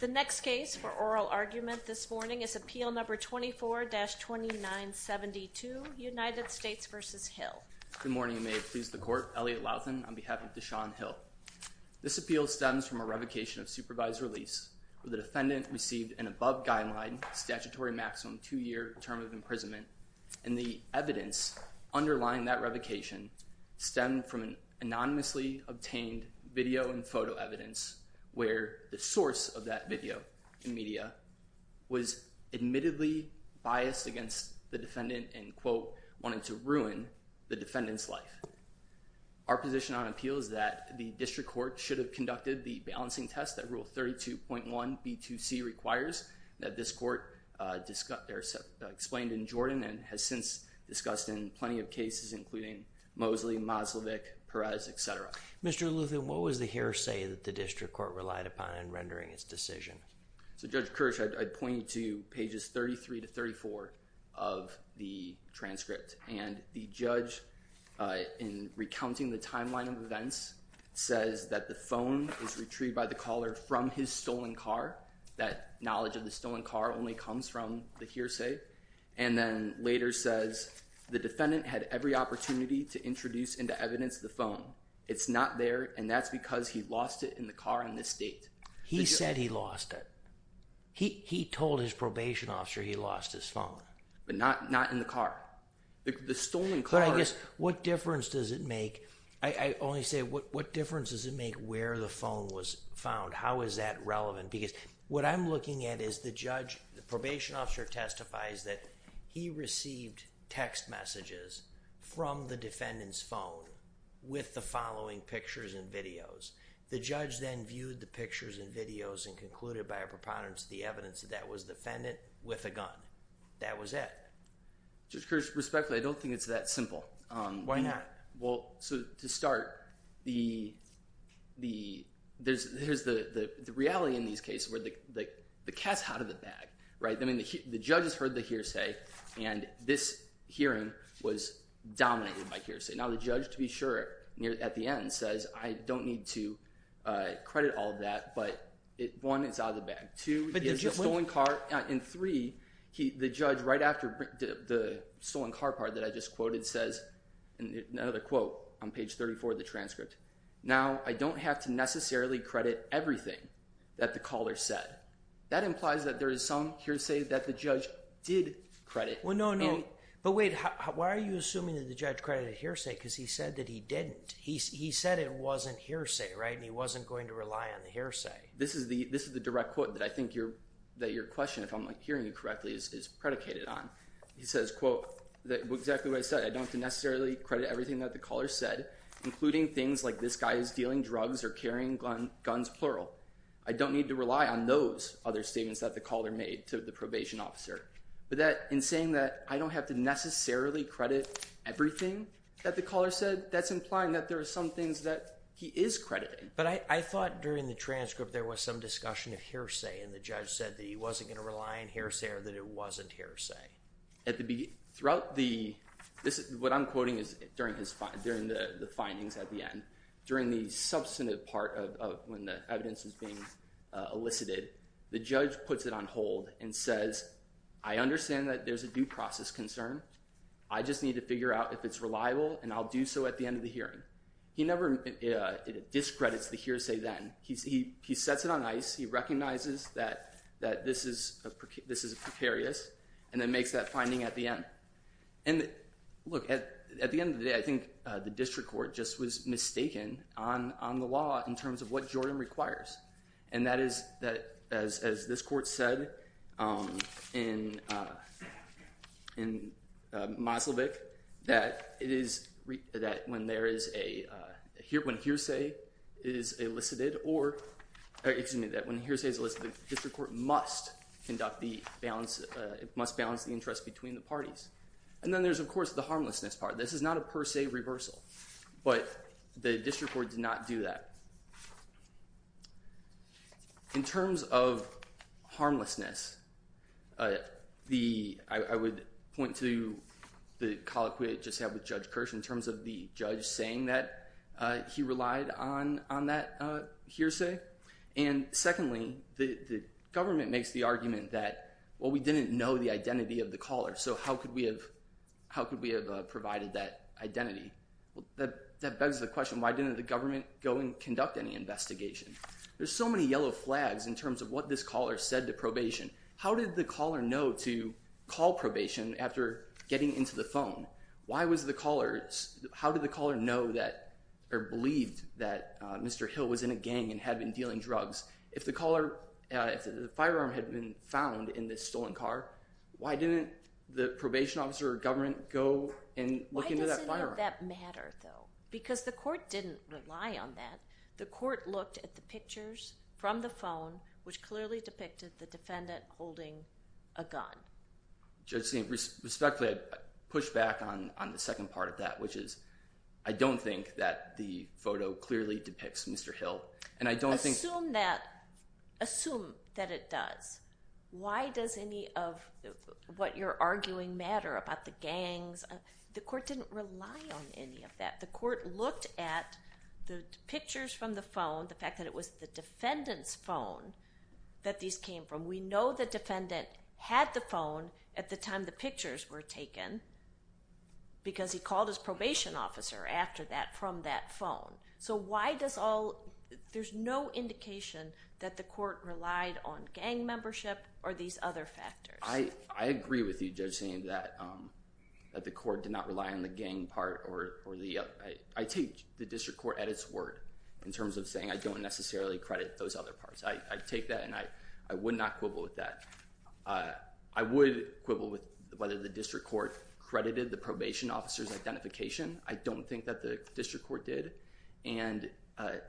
The next case for oral argument this morning is Appeal No. 24-2972, United States v. Hill. Good morning, and may it please the Court. Elliot Lauthan on behalf of Deshon Hill. This appeal stems from a revocation of supervised release, where the defendant received an above-guideline statutory maximum two-year term of imprisonment, and the evidence underlying that revocation stemmed from an anonymously obtained video and photo evidence, where the source of that video and media was admittedly biased against the defendant and, quote, wanted to ruin the defendant's life. Our position on appeal is that the district court should have conducted the balancing test that Rule 32.1b2c requires, that this Court explained in Jordan and has since discussed in plenty of cases, including Mosley, Moslevic, Perez, etc. Mr. Lauthan, what was the hearsay that the district court relied upon in rendering its decision? So, Judge Kirsch, I'd point you to pages 33-34 of the transcript. And the judge, in recounting the timeline of events, says that the phone was retrieved by the caller from his stolen car. That knowledge of the stolen car only comes from the hearsay. And then later says the defendant had every opportunity to introduce into evidence the phone. It's not there, and that's because he lost it in the car in this state. He said he lost it. He told his probation officer he lost his phone. But not in the car. The stolen car— But I guess, what difference does it make—I only say, what difference does it make where the phone was found? How is that relevant? Because what I'm looking at is the judge—the probation officer testifies that he received text messages from the defendant's phone with the following pictures and videos. The judge then viewed the pictures and videos and concluded by a preponderance that the evidence of that was the defendant with a gun. That was it. Judge Kirsch, respectfully, I don't think it's that simple. Why not? Well, to start, there's the reality in these cases where the cat's out of the bag. The judge has heard the hearsay, and this hearing was dominated by hearsay. Now, the judge, to be sure, at the end says, I don't need to credit all of that, but one, it's out of the bag. Two, he has a stolen car. And three, the judge, right after the stolen car part that I just quoted, says—another quote on page 34 of the transcript— Now, I don't have to necessarily credit everything that the caller said. That implies that there is some hearsay that the judge did credit. Well, no, no. But wait, why are you assuming that the judge credited hearsay because he said that he didn't? He said it wasn't hearsay, right, and he wasn't going to rely on the hearsay. This is the direct quote that I think your question, if I'm hearing you correctly, is predicated on. He says, quote, exactly what I said. I don't have to necessarily credit everything that the caller said, including things like this guy is dealing drugs or carrying guns, plural. I don't need to rely on those other statements that the caller made to the probation officer. But that—in saying that I don't have to necessarily credit everything that the caller said, that's implying that there are some things that he is crediting. But I thought during the transcript there was some discussion of hearsay, and the judge said that he wasn't going to rely on hearsay or that it wasn't hearsay. Throughout the—what I'm quoting is during the findings at the end. During the substantive part of when the evidence is being elicited, the judge puts it on hold and says, I understand that there's a due process concern. I just need to figure out if it's reliable, and I'll do so at the end of the hearing. He never discredits the hearsay then. He sets it on ice. He recognizes that this is precarious and then makes that finding at the end. And look, at the end of the day, I think the district court just was mistaken on the law in terms of what Jordan requires. And that is, as this court said in Moselvich, that it is—that when there is a—when hearsay is elicited or—excuse me, that when hearsay is elicited, the district court must conduct the balance—must balance the interest between the parties. And then there's, of course, the harmlessness part. This is not a per se reversal. But the district court did not do that. In terms of harmlessness, the—I would point to the colloquy I just had with Judge Kirsch in terms of the judge saying that he relied on that hearsay. And secondly, the government makes the argument that, well, we didn't know the identity of the caller, so how could we have—how could we have provided that identity? That begs the question, why didn't the government go and conduct any investigation? There's so many yellow flags in terms of what this caller said to probation. How did the caller know to call probation after getting into the phone? Why was the caller—how did the caller know that—or believed that Mr. Hill was in a gang and had been dealing drugs? If the caller—if the firearm had been found in this stolen car, why didn't the probation officer or government go and look into that firearm? Why does any of that matter, though? Because the court didn't rely on that. The court looked at the pictures from the phone, which clearly depicted the defendant holding a gun. Judge Steen, respectfully, I'd push back on the second part of that, which is I don't think that the photo clearly depicts Mr. Hill. And I don't think— Assume that—assume that it does. Why does any of what you're arguing matter about the gangs? The court didn't rely on any of that. The court looked at the pictures from the phone, the fact that it was the defendant's phone that these came from. We know the defendant had the phone at the time the pictures were taken because he called his probation officer after that from that phone. So why does all—there's no indication that the court relied on gang membership or these other factors. I agree with you, Judge Steen, that the court did not rely on the gang part or the—I take the district court at its word in terms of saying I don't necessarily credit those other parts. I take that, and I would not quibble with that. I would quibble with whether the district court credited the probation officer's identification. I don't think that the district court did. And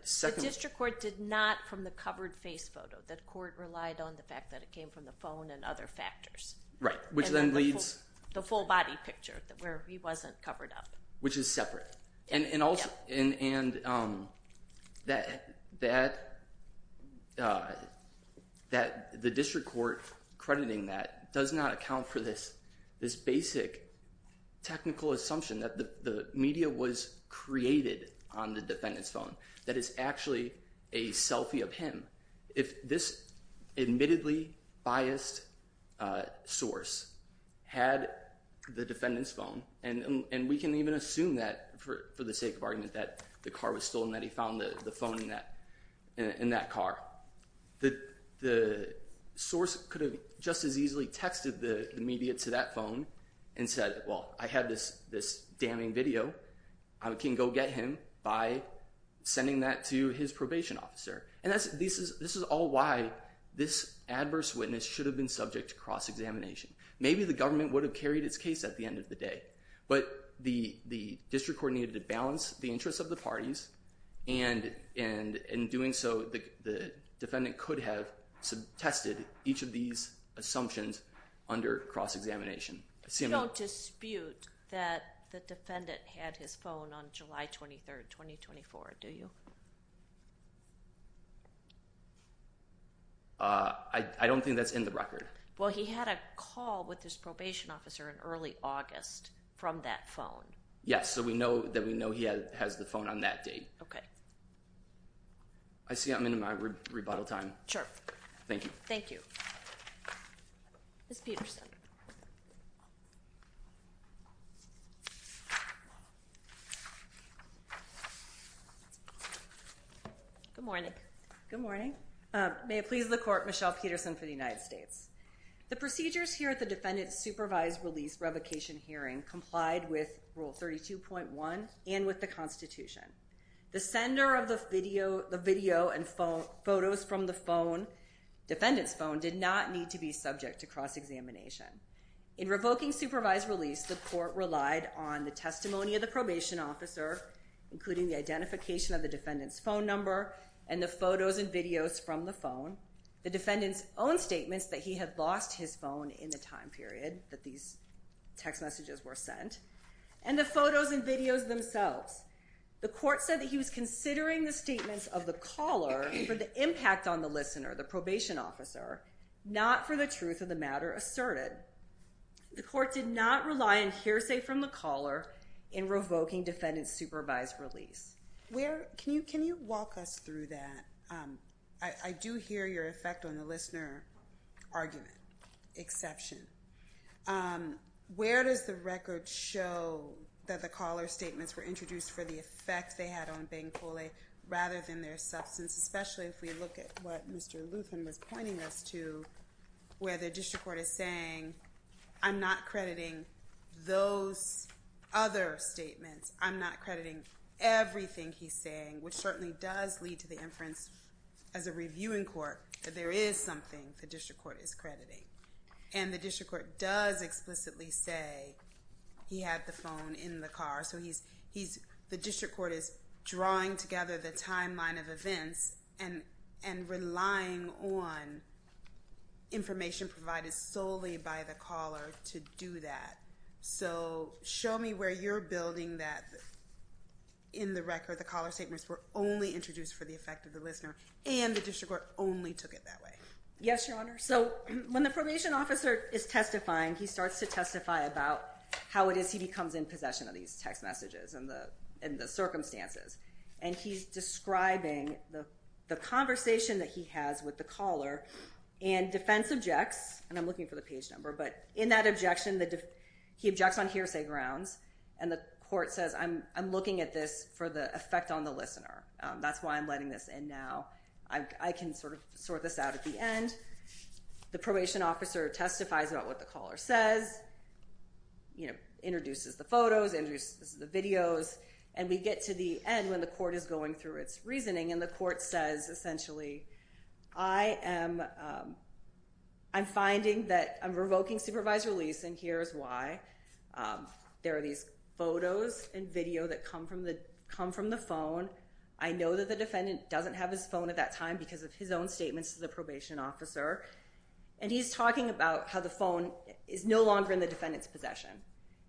second— The district court did not from the covered face photo. The court relied on the fact that it came from the phone and other factors. Right, which then leads— The full body picture where he wasn't covered up. Which is separate. And that the district court crediting that does not account for this basic technical assumption that the media was created on the defendant's phone. That it's actually a selfie of him. If this admittedly biased source had the defendant's phone, and we can even assume that for the sake of argument that the car was stolen, that he found the phone in that car. The source could have just as easily texted the media to that phone and said, well, I have this damning video. I can go get him by sending that to his probation officer. And this is all why this adverse witness should have been subject to cross-examination. Maybe the government would have carried its case at the end of the day. But the district court needed to balance the interests of the parties, and in doing so, the defendant could have tested each of these assumptions under cross-examination. You don't dispute that the defendant had his phone on July 23, 2024, do you? I don't think that's in the record. Well, he had a call with his probation officer in early August from that phone. Yes. So we know that we know he has the phone on that date. OK. I see I'm in my rebuttal time. Sure. Thank you. Thank you. Ms. Peterson. Good morning. Good morning. May it please the court, Michelle Peterson for the United States. The procedures here at the defendant's supervised release revocation hearing complied with Rule 32.1 and with the Constitution. The sender of the video and photos from the phone, defendant's phone, did not need to be subject to cross-examination. In revoking supervised release, the court relied on the testimony of the probation officer, including the identification of the defendant's phone number and the photos and videos from the phone, the defendant's own statements that he had lost his phone in the time period that these text messages were sent, and the photos and videos themselves. The court said that he was considering the statements of the caller for the impact on the listener, the probation officer, not for the truth of the matter asserted. The court did not rely on hearsay from the caller in revoking defendant's supervised release. Can you walk us through that? I do hear your effect on the listener argument, exception. Where does the record show that the caller's statements were introduced for the effect they had on Beng Cole rather than their substance, especially if we look at what Mr. Luthen was pointing us to, where the district court is saying, I'm not crediting those other statements. I'm not crediting everything he's saying, which certainly does lead to the inference as a reviewing court that there is something the district court is crediting. And the district court does explicitly say he had the phone in the car. So the district court is drawing together the timeline of events and relying on information provided solely by the caller to do that. So show me where you're building that in the record, the caller's statements were only introduced for the effect of the listener, and the district court only took it that way. Yes, Your Honor. So when the probation officer is testifying, he starts to testify about how it is he becomes in possession of these text messages and the circumstances. And he's describing the conversation that he has with the caller. And defense objects, and I'm looking for the page number, but in that objection, he objects on hearsay grounds. And the court says, I'm looking at this for the effect on the listener. That's why I'm letting this in now. I can sort of sort this out at the end. The probation officer testifies about what the caller says, introduces the photos, introduces the videos. And we get to the end when the court is going through its reasoning. And the court says, essentially, I'm finding that I'm revoking supervised release, and here's why. There are these photos and video that come from the phone. I know that the defendant doesn't have his phone at that time because of his own statements to the probation officer. And he's talking about how the phone is no longer in the defendant's possession.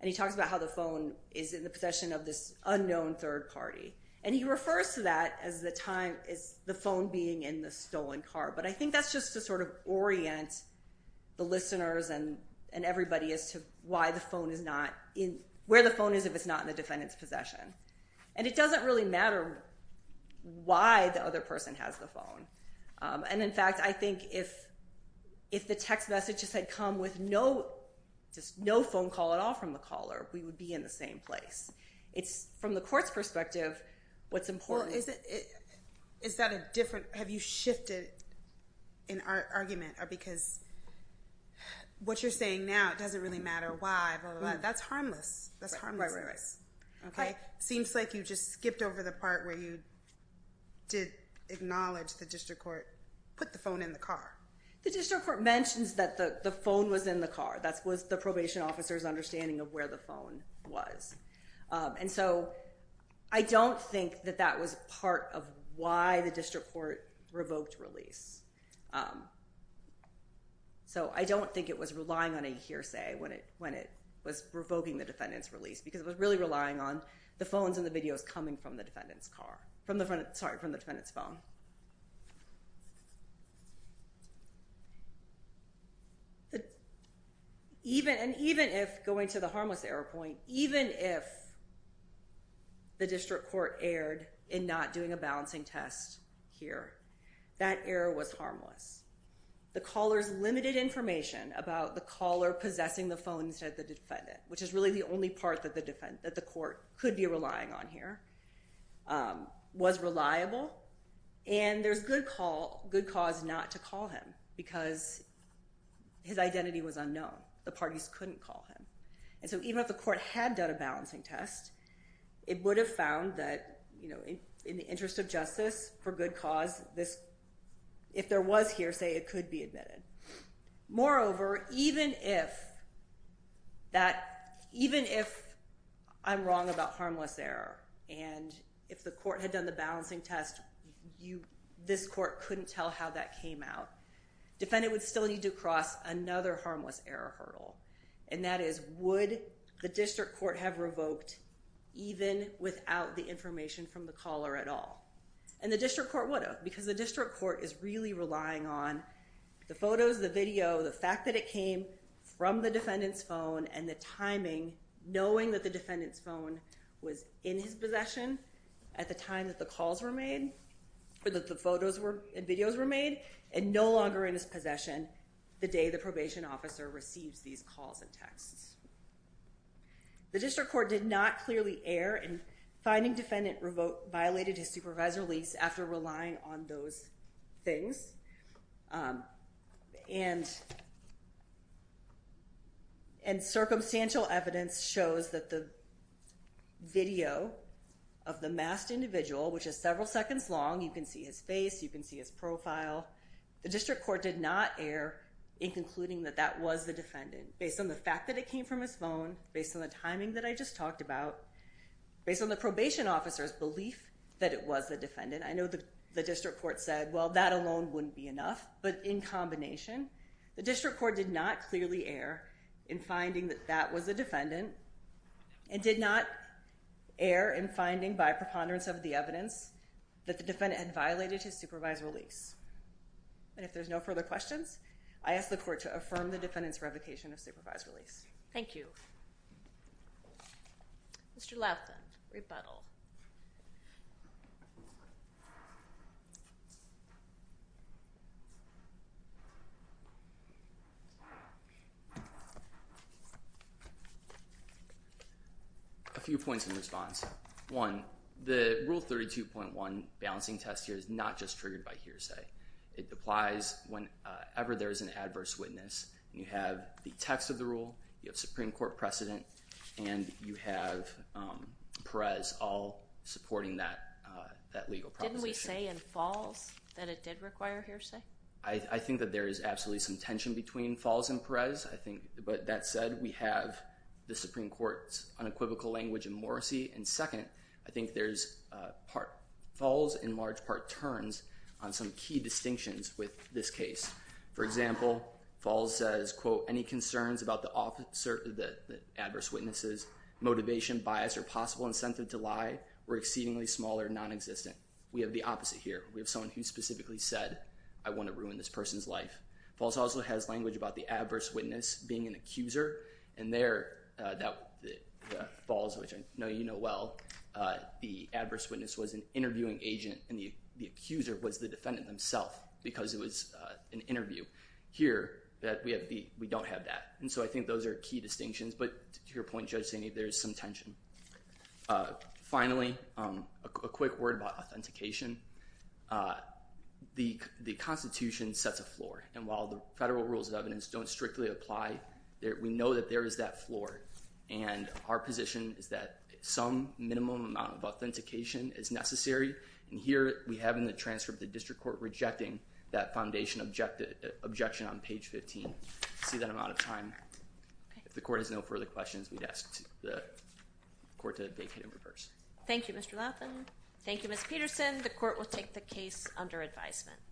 And he talks about how the phone is in the possession of this unknown third party. And he refers to that as the phone being in the stolen car. But I think that's just to sort of orient the listeners and everybody as to where the phone is if it's not in the defendant's possession. And it doesn't really matter why the other person has the phone. And, in fact, I think if the text messages had come with just no phone call at all from the caller, we would be in the same place. It's from the court's perspective what's important. Well, is that a different – have you shifted an argument? Because what you're saying now, it doesn't really matter why, blah, blah, blah. That's harmless. That's harmless. Okay? Seems like you just skipped over the part where you did acknowledge the district court put the phone in the car. The district court mentions that the phone was in the car. That was the probation officer's understanding of where the phone was. And so I don't think that that was part of why the district court revoked release. So I don't think it was relying on a hearsay when it was revoking the defendant's release because it was really relying on the phones and the videos coming from the defendant's car – sorry, from the defendant's phone. And even if – going to the harmless error point – even if the district court erred in not doing a balancing test here, that error was harmless. The caller's limited information about the caller possessing the phone instead of the defendant, which is really the only part that the court could be relying on here, was reliable. And there's good cause not to call him because his identity was unknown. The parties couldn't call him. And so even if the court had done a balancing test, it would have found that in the interest of justice, for good cause, if there was hearsay, it could be admitted. Moreover, even if I'm wrong about harmless error and if the court had done the balancing test, this court couldn't tell how that came out, the defendant would still need to cross another harmless error hurdle. And that is, would the district court have revoked even without the information from the caller at all? And the district court would have because the district court is really relying on the photos, the video, the fact that it came from the defendant's phone and the timing, knowing that the defendant's phone was in his possession at the time that the calls were made, or that the photos and videos were made, and no longer in his possession the day the probation officer receives these calls and texts. The district court did not clearly err in finding defendant violated his supervisor lease after relying on those things. And circumstantial evidence shows that the video of the masked individual, which is several seconds long, you can see his face, you can see his profile, the district court did not err in concluding that that was the defendant, based on the fact that it came from his phone, based on the timing that I just talked about, based on the probation officer's belief that it was the defendant. I know the district court said, well, that alone wouldn't be enough. But in combination, the district court did not clearly err in finding that that was the defendant and did not err in finding by preponderance of the evidence that the defendant had violated his supervisor lease. And if there's no further questions, I ask the court to affirm the defendant's revocation of supervisor lease. Thank you. Mr. Laughton, rebuttal. A few points in response. One, the Rule 32.1 balancing test here is not just triggered by hearsay. It applies whenever there is an adverse witness. You have the text of the rule, you have Supreme Court precedent, and you have Perez all supporting that legal proposition. Didn't we say in Falls that it did require hearsay? I think that there is absolutely some tension between Falls and Perez. But that said, we have the Supreme Court's unequivocal language in Morrissey. And second, I think there's part Falls and large part turns on some key distinctions with this case. For example, Falls says, quote, any concerns about the adverse witness's motivation, bias, or possible incentive to lie were exceedingly small or nonexistent. We have the opposite here. We have someone who specifically said, I want to ruin this person's life. Falls also has language about the adverse witness being an accuser. And there, Falls, which I know you know well, the adverse witness was an interviewing agent. And the accuser was the defendant himself, because it was an interview. Here, we don't have that. And so I think those are key distinctions. But to your point, Judge Saney, there is some tension. Finally, a quick word about authentication. The Constitution sets a floor. And while the federal rules of evidence don't strictly apply, we know that there is that floor. And our position is that some minimum amount of authentication is necessary. And here, we have in the transcript the district court rejecting that foundation objection on page 15. See that I'm out of time. If the court has no further questions, we'd ask the court to vacate and reverse. Thank you, Mr. Laughlin. Thank you, Ms. Peterson. The court will take the case under advisement.